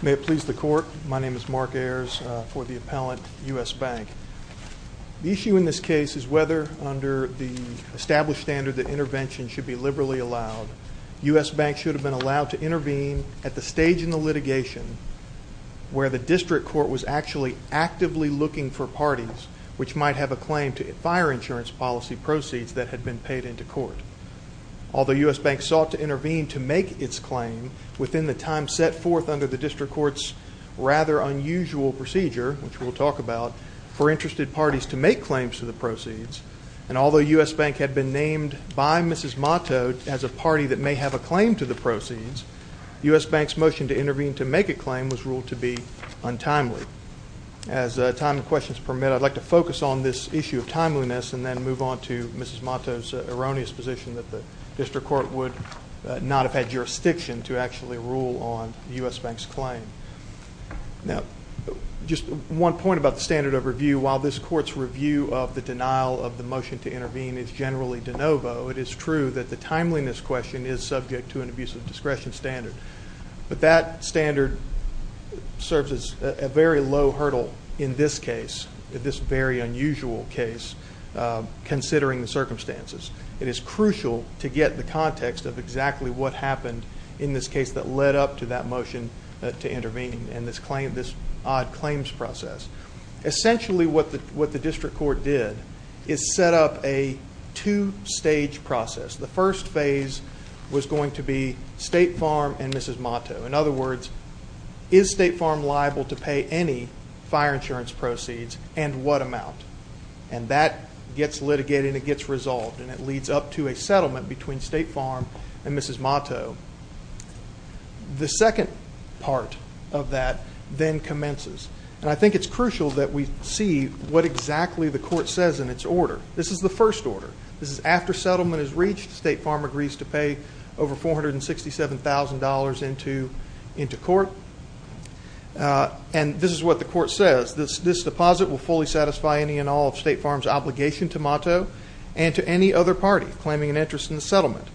May it please the Court, my name is Mark Ayers for the appellant, U.S. Bank. The issue in this case is whether under the established standard that intervention should be liberally allowed, U.S. Bank should have been allowed to intervene at the stage in the litigation where the district court was actually actively looking for parties which might have a claim to fire insurance policy proceeds that had been paid into court. Although U.S. Bank sought to intervene to make its claim within the time set forth under the district court's rather unusual procedure, which we'll talk about, for interested parties to make claims to the proceeds, and although U.S. Bank had been named by Mrs. Motto as a party that may have a claim to the proceeds, U.S. Bank's motion to intervene to make a claim was ruled to be untimely. As time and questions permit, I'd like to focus on this issue of timeliness and then move on to Mrs. Motto's erroneous position that the district court would not have had jurisdiction to actually rule on U.S. Bank's claim. Now, just one point about the standard of review. While this court's review of the denial of the motion to intervene is generally de novo, it is true that the timeliness question is subject to an abuse of discretion standard. But that standard serves as a very low hurdle in this case, this very unusual case, considering the circumstances. It is crucial to get the context of exactly what happened in this case that led up to that motion to intervene and this odd claims process. Essentially what the district court did is set up a two-stage process. The first phase was going to be State Farm and Mrs. Motto. In other words, is State Farm liable to pay any fire insurance proceeds and what amount? And that gets litigated and it gets resolved and it leads up to a settlement between State Farm and Mrs. Motto. The second part of that then commences. And I think it's crucial that we see what exactly the court says in its order. This is the first order. This is after settlement is reached. State Farm agrees to pay over $467,000 into court. And this is what the court says. This deposit will fully satisfy any and all of State Farm's obligation to Motto and to any other party claiming an interest in the settlement.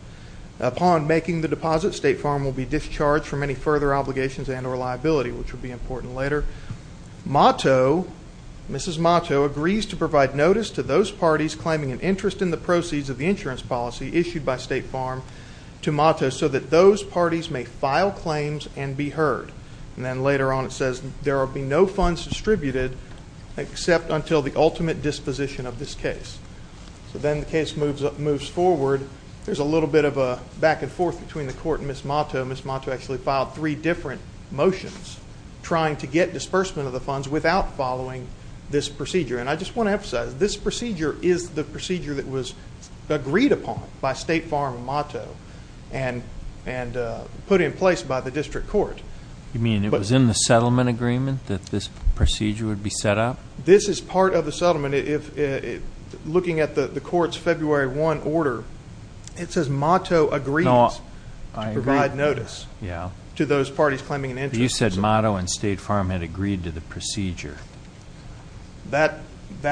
Upon making the deposit, State Farm will be discharged from any further obligations and or liability, which will be important later. Motto, Mrs. Motto, agrees to provide notice to those parties claiming an interest in the proceeds of the insurance policy issued by State Farm to Motto so that those parties may file claims and be heard. And then later on it says there will be no funds distributed except until the ultimate disposition of this case. So then the case moves forward. There's a little bit of a back and forth between the court and Mrs. Motto. Mrs. Motto actually filed three different motions trying to get disbursement of the funds without following this procedure. And I just want to emphasize, this procedure is the procedure that was agreed upon by State Farm and Motto and put in place by the district court. You mean it was in the settlement agreement that this procedure would be set up? This is part of the settlement. Looking at the court's February 1 order, it says Motto agrees to provide notice to those parties claiming an interest. You said Motto and State Farm had agreed to the procedure. That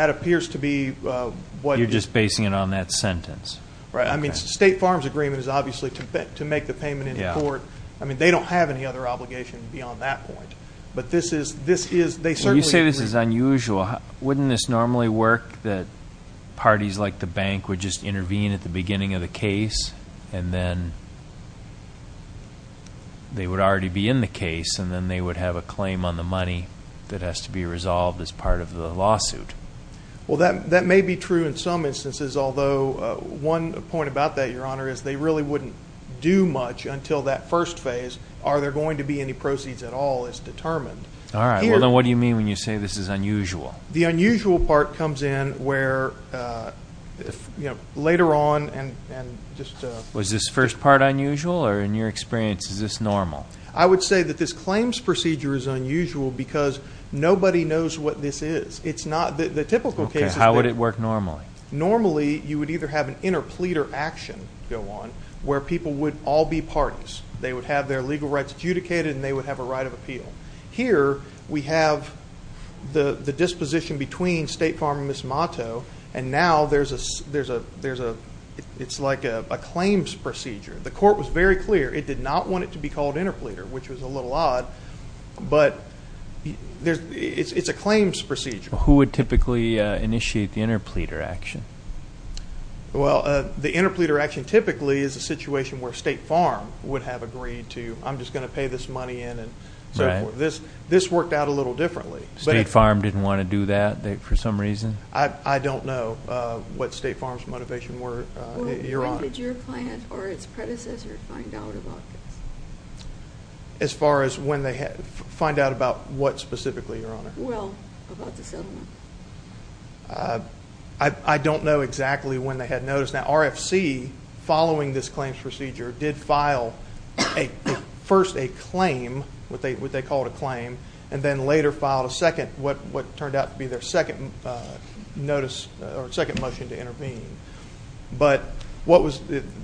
appears to be what it is. You're just basing it on that sentence. I mean, State Farm's agreement is obviously to make the payment in court. I mean, they don't have any other obligation beyond that point. But this is, they certainly agree. This is unusual. Wouldn't this normally work that parties like the bank would just intervene at the beginning of the case, and then they would already be in the case, and then they would have a claim on the money that has to be resolved as part of the lawsuit? Well, that may be true in some instances, although one point about that, Your Honor, is they really wouldn't do much until that first phase. Are there going to be any proceeds at all is determined. All right. Well, then what do you mean when you say this is unusual? The unusual part comes in where, you know, later on and just a ---- Was this first part unusual? Or in your experience, is this normal? I would say that this claims procedure is unusual because nobody knows what this is. It's not the typical case. Okay. How would it work normally? Normally, you would either have an interpleader action go on where people would all be parties. They would have their legal rights adjudicated, and they would have a right of appeal. Here we have the disposition between State Farm and Ms. Motto, and now there's a ---- it's like a claims procedure. The court was very clear it did not want it to be called interpleader, which was a little odd. But it's a claims procedure. Who would typically initiate the interpleader action? Well, the interpleader action typically is a situation where State Farm would have agreed to, I'm just going to pay this money in and so forth. This worked out a little differently. State Farm didn't want to do that for some reason? I don't know what State Farm's motivation were, Your Honor. When did your client or its predecessor find out about this? As far as when they find out about what specifically, Your Honor? Well, about the settlement. I don't know exactly when they had noticed that. RFC, following this claims procedure, did file first a claim, what they called a claim, and then later filed a second, what turned out to be their second motion to intervene. But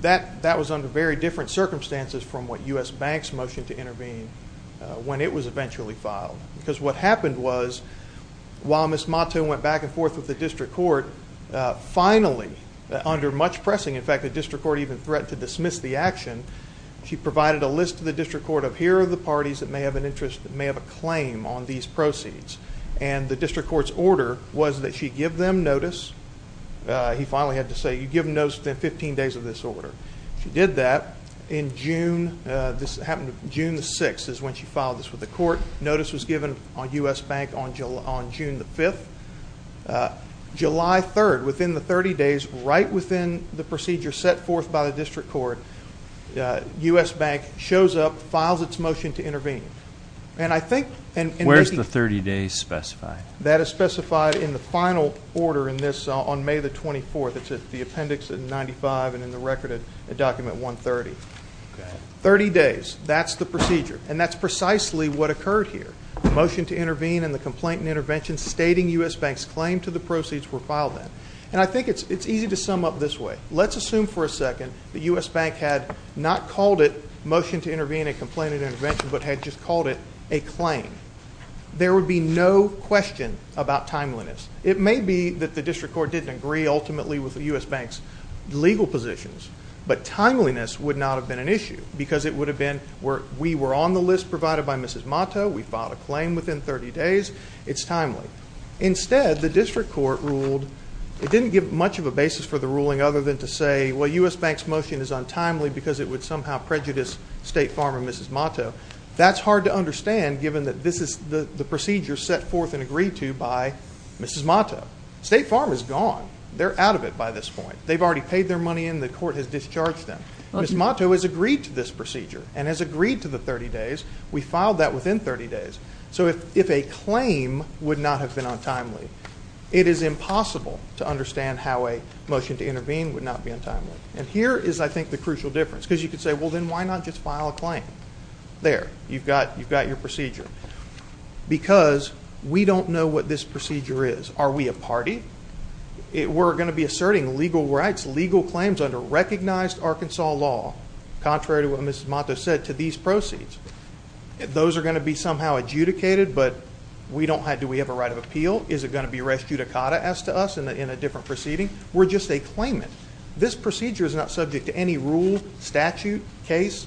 that was under very different circumstances from what U.S. Banks motioned to intervene when it was eventually filed. Because what happened was, while Ms. Motto went back and forth with the district court, finally, under much pressing, in fact, the district court even threatened to dismiss the action, she provided a list to the district court of here are the parties that may have an interest, that may have a claim on these proceeds. And the district court's order was that she give them notice. He finally had to say, you give notice within 15 days of this order. She did that. In June, this happened June 6th is when she filed this with the court. Notice was given on U.S. Bank on June 5th. July 3rd, within the 30 days, right within the procedure set forth by the district court, U.S. Bank shows up, files its motion to intervene. Where is the 30 days specified? That is specified in the final order in this on May 24th. It's in the appendix in 95 and in the record in document 130. Thirty days, that's the procedure. And that's precisely what occurred here. The motion to intervene and the complaint and intervention stating U.S. Bank's claim to the proceeds were filed then. And I think it's easy to sum up this way. Let's assume for a second the U.S. Bank had not called it motion to intervene and complaint and intervention, but had just called it a claim. There would be no question about timeliness. It may be that the district court didn't agree ultimately with the U.S. Bank's legal positions, but timeliness would not have been an issue because it would have been, we were on the list provided by Mrs. Mato, we filed a claim within 30 days, it's timely. Instead, the district court ruled, it didn't give much of a basis for the ruling other than to say, well, U.S. Bank's motion is untimely because it would somehow prejudice State Farm and Mrs. Mato. That's hard to understand given that this is the procedure set forth and agreed to by Mrs. Mato. State Farm is gone. They're out of it by this point. They've already paid their money in. The court has discharged them. Mrs. Mato has agreed to this procedure and has agreed to the 30 days. We filed that within 30 days. So if a claim would not have been untimely, it is impossible to understand how a motion to intervene would not be untimely. And here is, I think, the crucial difference. Because you could say, well, then why not just file a claim? There, you've got your procedure. Because we don't know what this procedure is. Are we a party? We're going to be asserting legal rights, legal claims under recognized Arkansas law, contrary to what Mrs. Mato said, to these proceeds. Those are going to be somehow adjudicated, but do we have a right of appeal? Is it going to be res judicata as to us in a different proceeding? We're just a claimant. This procedure is not subject to any rule, statute, case.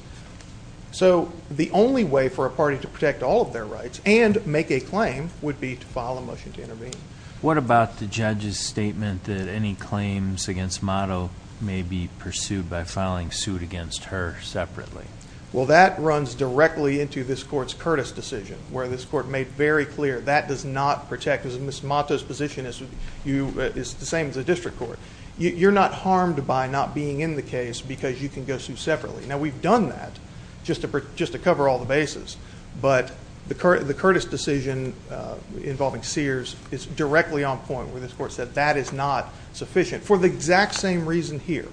So the only way for a party to protect all of their rights and make a claim would be to file a motion to intervene. What about the judge's statement that any claims against Mato may be pursued by filing suit against her separately? Well, that runs directly into this court's Curtis decision, where this court made very clear that does not protect. Mrs. Mato's position is the same as the district court. You're not harmed by not being in the case because you can go sue separately. Now, we've done that just to cover all the bases. But the Curtis decision involving Sears is directly on point, where this court said that is not sufficient for the exact same reason here.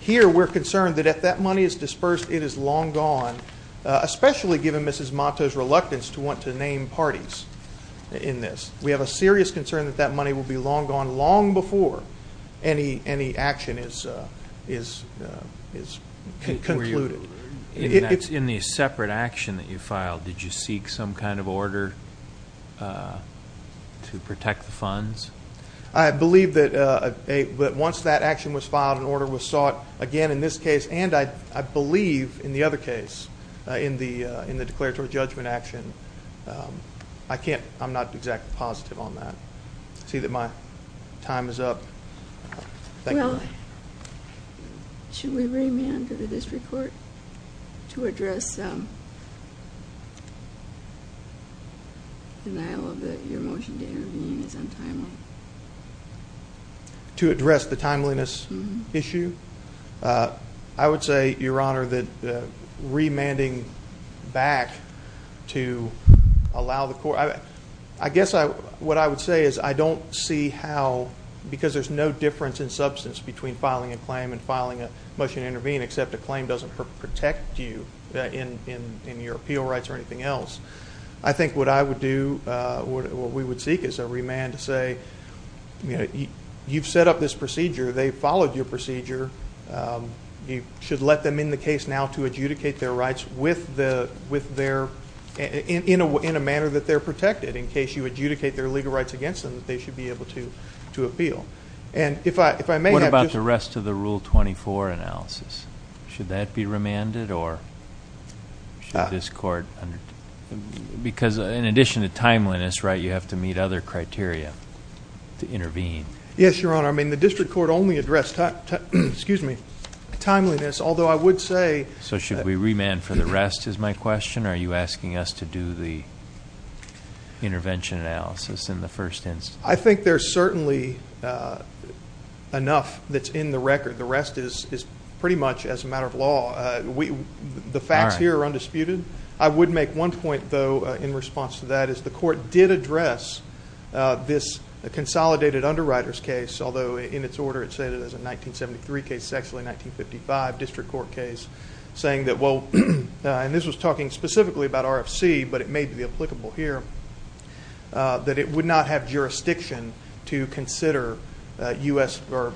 Here we're concerned that if that money is dispersed, it is long gone, especially given Mrs. Mato's reluctance to want to name parties in this. We have a serious concern that that money will be long gone long before any action is concluded. In the separate action that you filed, did you seek some kind of order to protect the funds? I believe that once that action was filed, an order was sought again in this case and I believe in the other case in the declaratory judgment action. I'm not exactly positive on that. I see that my time is up. Thank you. Should we remand the district court to address the denial of your motion to intervene as untimely? To address the timeliness issue? I would say, Your Honor, that remanding back to allow the court— I guess what I would say is I don't see how, because there's no difference in substance between filing a claim and filing a motion to intervene, except a claim doesn't protect you in your appeal rights or anything else. I think what I would do, what we would seek, is a remand to say, you've set up this procedure, they've followed your procedure, you should let them in the case now to adjudicate their rights with their— in a manner that they're protected. In case you adjudicate their legal rights against them, they should be able to appeal. What about the rest of the Rule 24 analysis? Should that be remanded or should this court— because in addition to timeliness, you have to meet other criteria to intervene. Yes, Your Honor. I mean, the district court only addressed timeliness, although I would say— So should we remand for the rest is my question, or are you asking us to do the intervention analysis in the first instance? I think there's certainly enough that's in the record. The rest is pretty much as a matter of law. The facts here are undisputed. I would make one point, though, in response to that, is the court did address this consolidated underwriters case, although in its order it said it was a 1973 case, sexually, 1955 district court case, saying that, well, and this was talking specifically about RFC, but it may be applicable here, that it would not have jurisdiction to consider U.S. or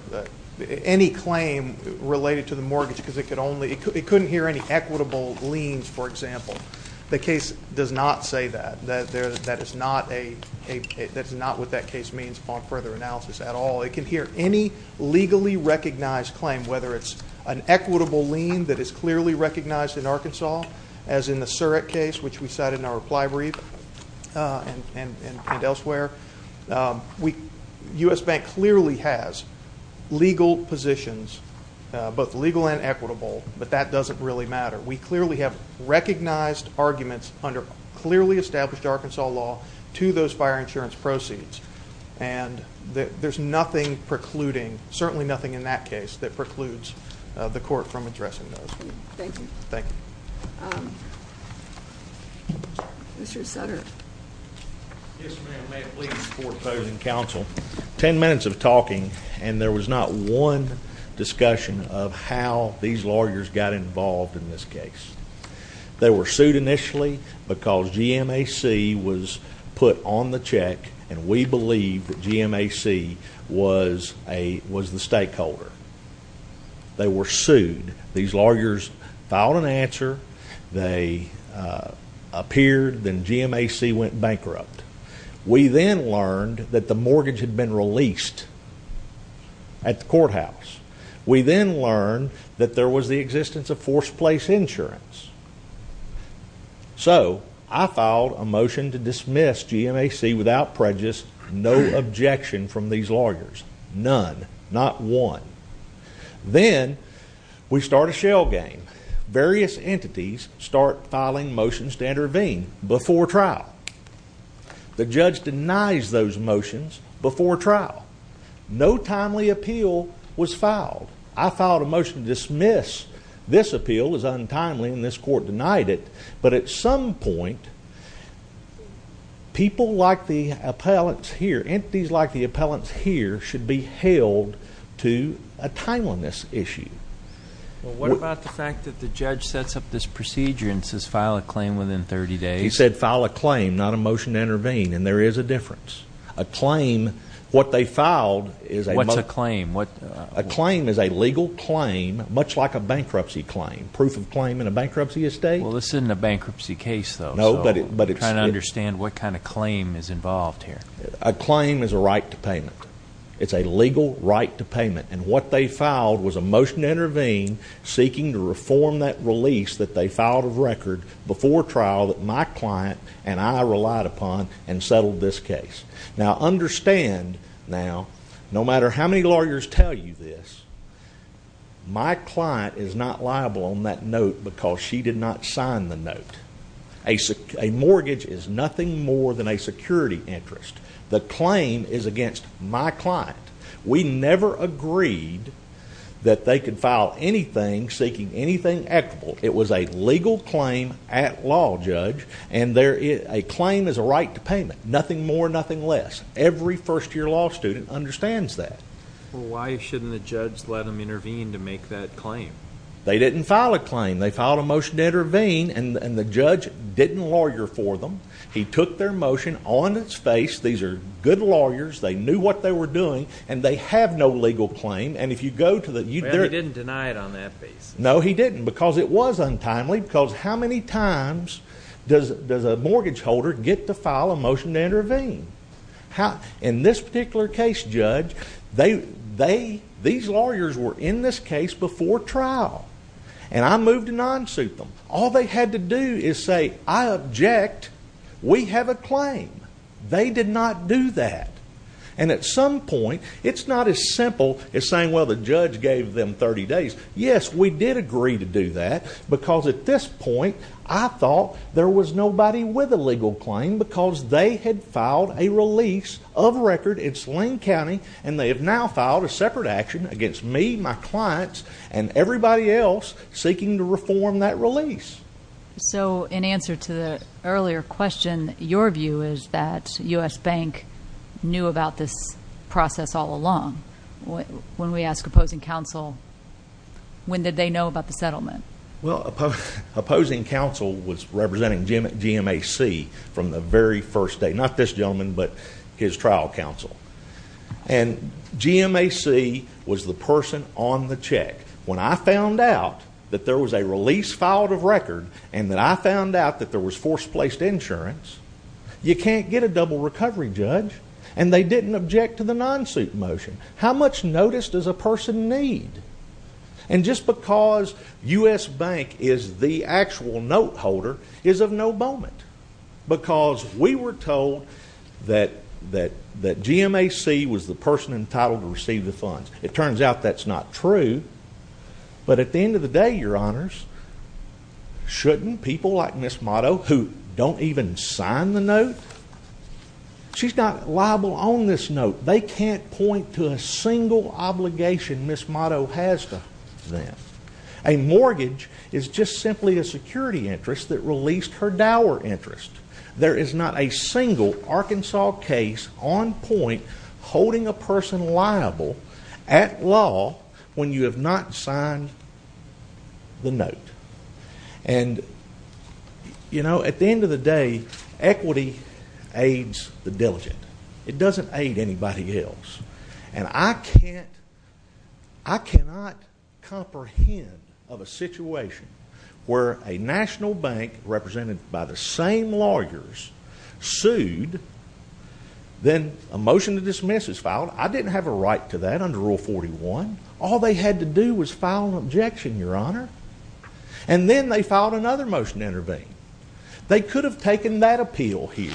any claim related to the mortgage because it could only— it couldn't hear any equitable liens, for example. The case does not say that. That is not what that case means upon further analysis at all. It can hear any legally recognized claim, whether it's an equitable lien that is clearly recognized in Arkansas, as in the Surrett case, which we cited in our reply brief and elsewhere. U.S. Bank clearly has legal positions, both legal and equitable, but that doesn't really matter. We clearly have recognized arguments under clearly established Arkansas law to those fire insurance proceeds, and there's nothing precluding, certainly nothing in that case, that precludes the court from addressing those. Thank you. Thank you. Mr. Sutter. Yes, ma'am. May it please the court, opposing counsel. Ten minutes of talking and there was not one discussion of how these lawyers got involved in this case. They were sued initially because GMAC was put on the check, and we believe that GMAC was the stakeholder. They were sued. These lawyers filed an answer. They appeared. Then GMAC went bankrupt. We then learned that the mortgage had been released at the courthouse. We then learned that there was the existence of forced place insurance. So I filed a motion to dismiss GMAC without prejudice, no objection from these lawyers, none, not one. Then we start a shell game. Various entities start filing motions to intervene before trial. The judge denies those motions before trial. No timely appeal was filed. I filed a motion to dismiss. This appeal was untimely, and this court denied it. But at some point, people like the appellants here, entities like the appellants here, should be held to a timeliness issue. Well, what about the fact that the judge sets up this procedure and says file a claim within 30 days? He said file a claim, not a motion to intervene, and there is a difference. A claim, what they filed is a motion. What's a claim? A claim is a legal claim, much like a bankruptcy claim, proof of claim in a bankruptcy estate. Well, this isn't a bankruptcy case, though. No, but it's... I'm trying to understand what kind of claim is involved here. A claim is a right to payment. It's a legal right to payment. And what they filed was a motion to intervene, seeking to reform that release that they filed of record before trial that my client and I relied upon and settled this case. Now, understand now, no matter how many lawyers tell you this, my client is not liable on that note because she did not sign the note. A mortgage is nothing more than a security interest. The claim is against my client. We never agreed that they could file anything seeking anything equitable. It was a legal claim at law, Judge. And a claim is a right to payment, nothing more, nothing less. Every first-year law student understands that. Well, why shouldn't the judge let them intervene to make that claim? They didn't file a claim. They filed a motion to intervene, and the judge didn't lawyer for them. He took their motion on its face. These are good lawyers. They knew what they were doing, and they have no legal claim. And if you go to the... Well, he didn't deny it on that basis. No, he didn't, because it was untimely, because how many times does a mortgage holder get to file a motion to intervene? In this particular case, Judge, these lawyers were in this case before trial, and I moved to non-suit them. All they had to do is say, I object. We have a claim. They did not do that. And at some point, it's not as simple as saying, well, the judge gave them 30 days. Yes, we did agree to do that, because at this point I thought there was nobody with a legal claim because they had filed a release of record in Sling County, and they have now filed a separate action against me, my clients, and everybody else seeking to reform that release. So in answer to the earlier question, your view is that U.S. Bank knew about this process all along. When we ask opposing counsel, when did they know about the settlement? Well, opposing counsel was representing GMAC from the very first day, not this gentleman, but his trial counsel. And GMAC was the person on the check. When I found out that there was a release filed of record and that I found out that there was forced-placed insurance, you can't get a double recovery, Judge. And they didn't object to the non-suit motion. How much notice does a person need? And just because U.S. Bank is the actual note holder is of no moment, because we were told that GMAC was the person entitled to receive the funds. It turns out that's not true. But at the end of the day, Your Honors, shouldn't people like Ms. Motto, who don't even sign the note, she's not liable on this note. They can't point to a single obligation Ms. Motto has to them. A mortgage is just simply a security interest that released her dower interest. There is not a single Arkansas case on point holding a person liable at law when you have not signed the note. And, you know, at the end of the day, equity aids the diligent. It doesn't aid anybody else. And I cannot comprehend of a situation where a national bank represented by the same lawyers sued, then a motion to dismiss is filed. I didn't have a right to that under Rule 41. All they had to do was file an objection, Your Honor. And then they filed another motion to intervene. They could have taken that appeal here.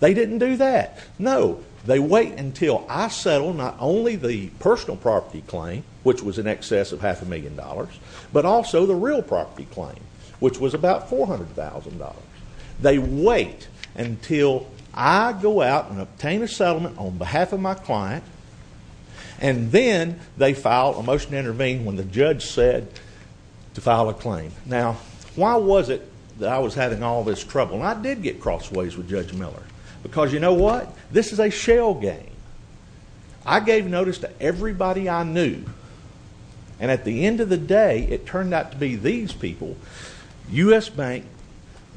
They didn't do that. No. They wait until I settle not only the personal property claim, which was in excess of half a million dollars, but also the real property claim, which was about $400,000. They wait until I go out and obtain a settlement on behalf of my client, and then they file a motion to intervene when the judge said to file a claim. Now, why was it that I was having all this trouble? And I did get crossways with Judge Miller. Because you know what? This is a shell game. I gave notice to everybody I knew. And at the end of the day, it turned out to be these people, U.S. Bank,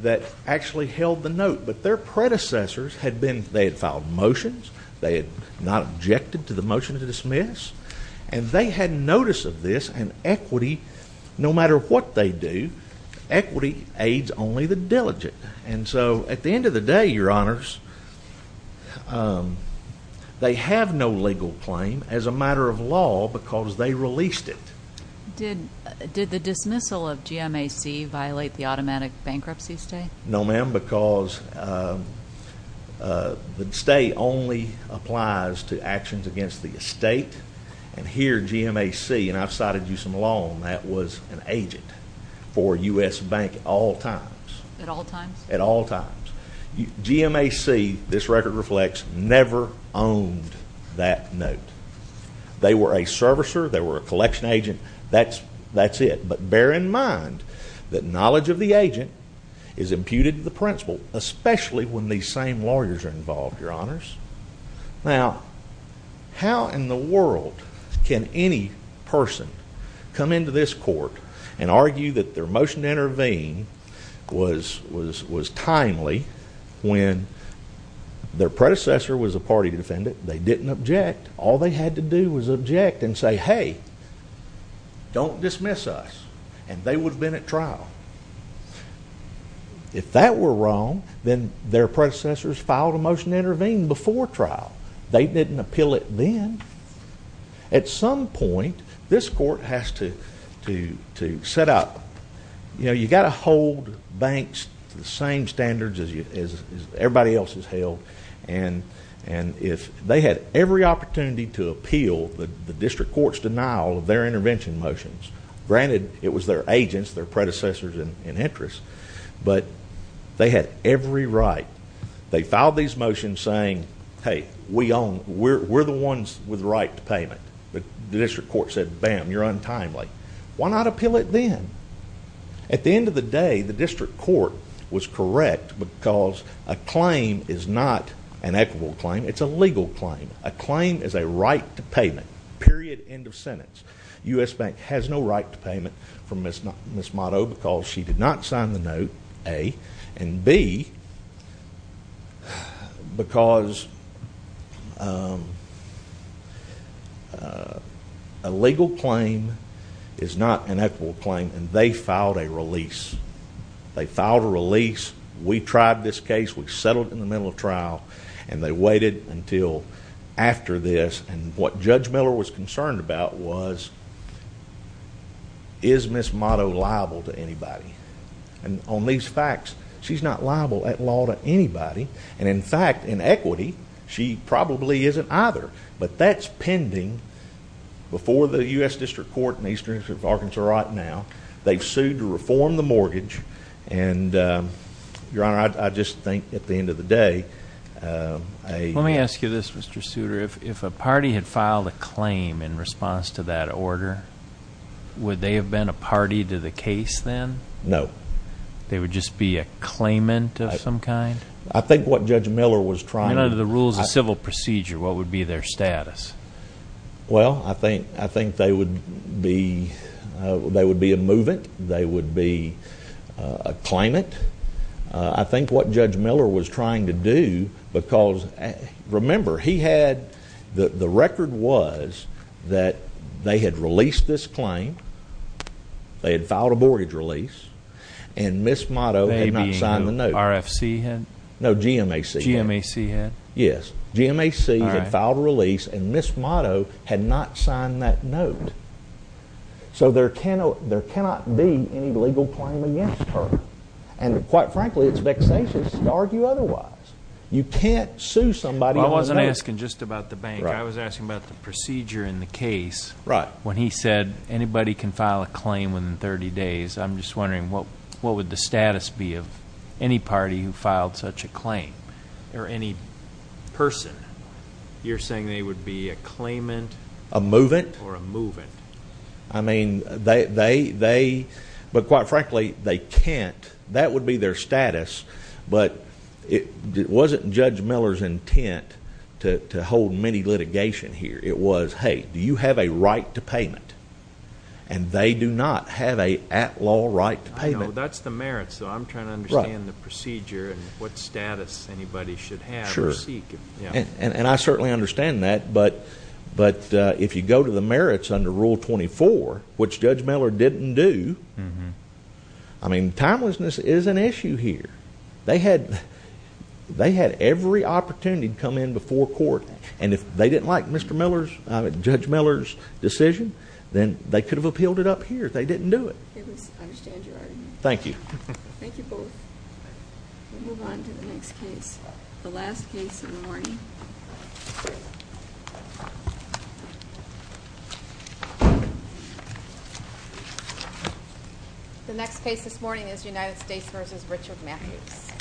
that actually held the note. But their predecessors had been they had filed motions. They had not objected to the motion to dismiss. And they had notice of this, and equity, no matter what they do, equity aids only the diligent. And so at the end of the day, Your Honors, they have no legal claim as a matter of law because they released it. Did the dismissal of GMAC violate the automatic bankruptcy stay? No, ma'am, because the stay only applies to actions against the estate. And here, GMAC, and I've cited you some along, that was an agent for U.S. Bank at all times. At all times? At all times. GMAC, this record reflects, never owned that note. They were a servicer. They were a collection agent. That's it. But bear in mind that knowledge of the agent is imputed to the principal, especially when these same lawyers are involved, Your Honors. Now, how in the world can any person come into this court and argue that their motion to intervene was timely when their predecessor was a party defendant. They didn't object. All they had to do was object and say, hey, don't dismiss us. And they would have been at trial. If that were wrong, then their predecessors filed a motion to intervene before trial. They didn't appeal it then. At some point, this court has to set up. You know, you've got to hold banks to the same standards as everybody else has held. And they had every opportunity to appeal the district court's denial of their intervention motions. Granted, it was their agents, their predecessors, in interest. But they had every right. They filed these motions saying, hey, we're the ones with the right to payment. But the district court said, bam, you're untimely. Why not appeal it then? At the end of the day, the district court was correct because a claim is not an equitable claim. It's a legal claim. A claim is a right to payment, period, end of sentence. U.S. Bank has no right to payment for Ms. Motto because she did not sign the note, A. And B, because a legal claim is not an equitable claim, and they filed a release. They filed a release. We tried this case. We settled it in the middle of trial. And they waited until after this. And what Judge Miller was concerned about was, is Ms. Motto liable to anybody? And on these facts, she's not liable at law to anybody. And, in fact, in equity, she probably isn't either. But that's pending before the U.S. District Court in eastern Arkansas right now. They've sued to reform the mortgage. And, Your Honor, I just think, at the end of the day, a— Let me ask you this, Mr. Souter. If a party had filed a claim in response to that order, would they have been a party to the case then? No. They would just be a claimant of some kind? I think what Judge Miller was trying to— And under the rules of civil procedure, what would be their status? Well, I think they would be a movant. They would be a claimant. I think what Judge Miller was trying to do, because, remember, he had— They had released this claim. They had filed a mortgage release. And Ms. Motto had not signed the note. They being the RFC head? No, GMAC head. GMAC head? Yes. GMAC had filed a release, and Ms. Motto had not signed that note. So, there cannot be any legal claim against her. And, quite frankly, it's vexatious to argue otherwise. You can't sue somebody— Well, I wasn't asking just about the bank. I was asking about the procedure in the case. Right. When he said anybody can file a claim within 30 days. I'm just wondering what would the status be of any party who filed such a claim or any person? You're saying they would be a claimant? A movant. Or a movant. I mean, they—but, quite frankly, they can't. That would be their status. But it wasn't Judge Miller's intent to hold mini-litigation here. It was, hey, do you have a right to payment? And they do not have a at-law right to payment. I know. That's the merits, though. I'm trying to understand the procedure and what status anybody should have or seek. Sure. And I certainly understand that. But if you go to the merits under Rule 24, which Judge Miller didn't do, I mean, timelessness is an issue here. They had every opportunity to come in before court. And if they didn't like Mr. Miller's—Judge Miller's decision, then they could have upheld it up here. They didn't do it. I understand your argument. Thank you. Thank you both. The last case in the morning. The next case this morning is United States v. Richard Matthews.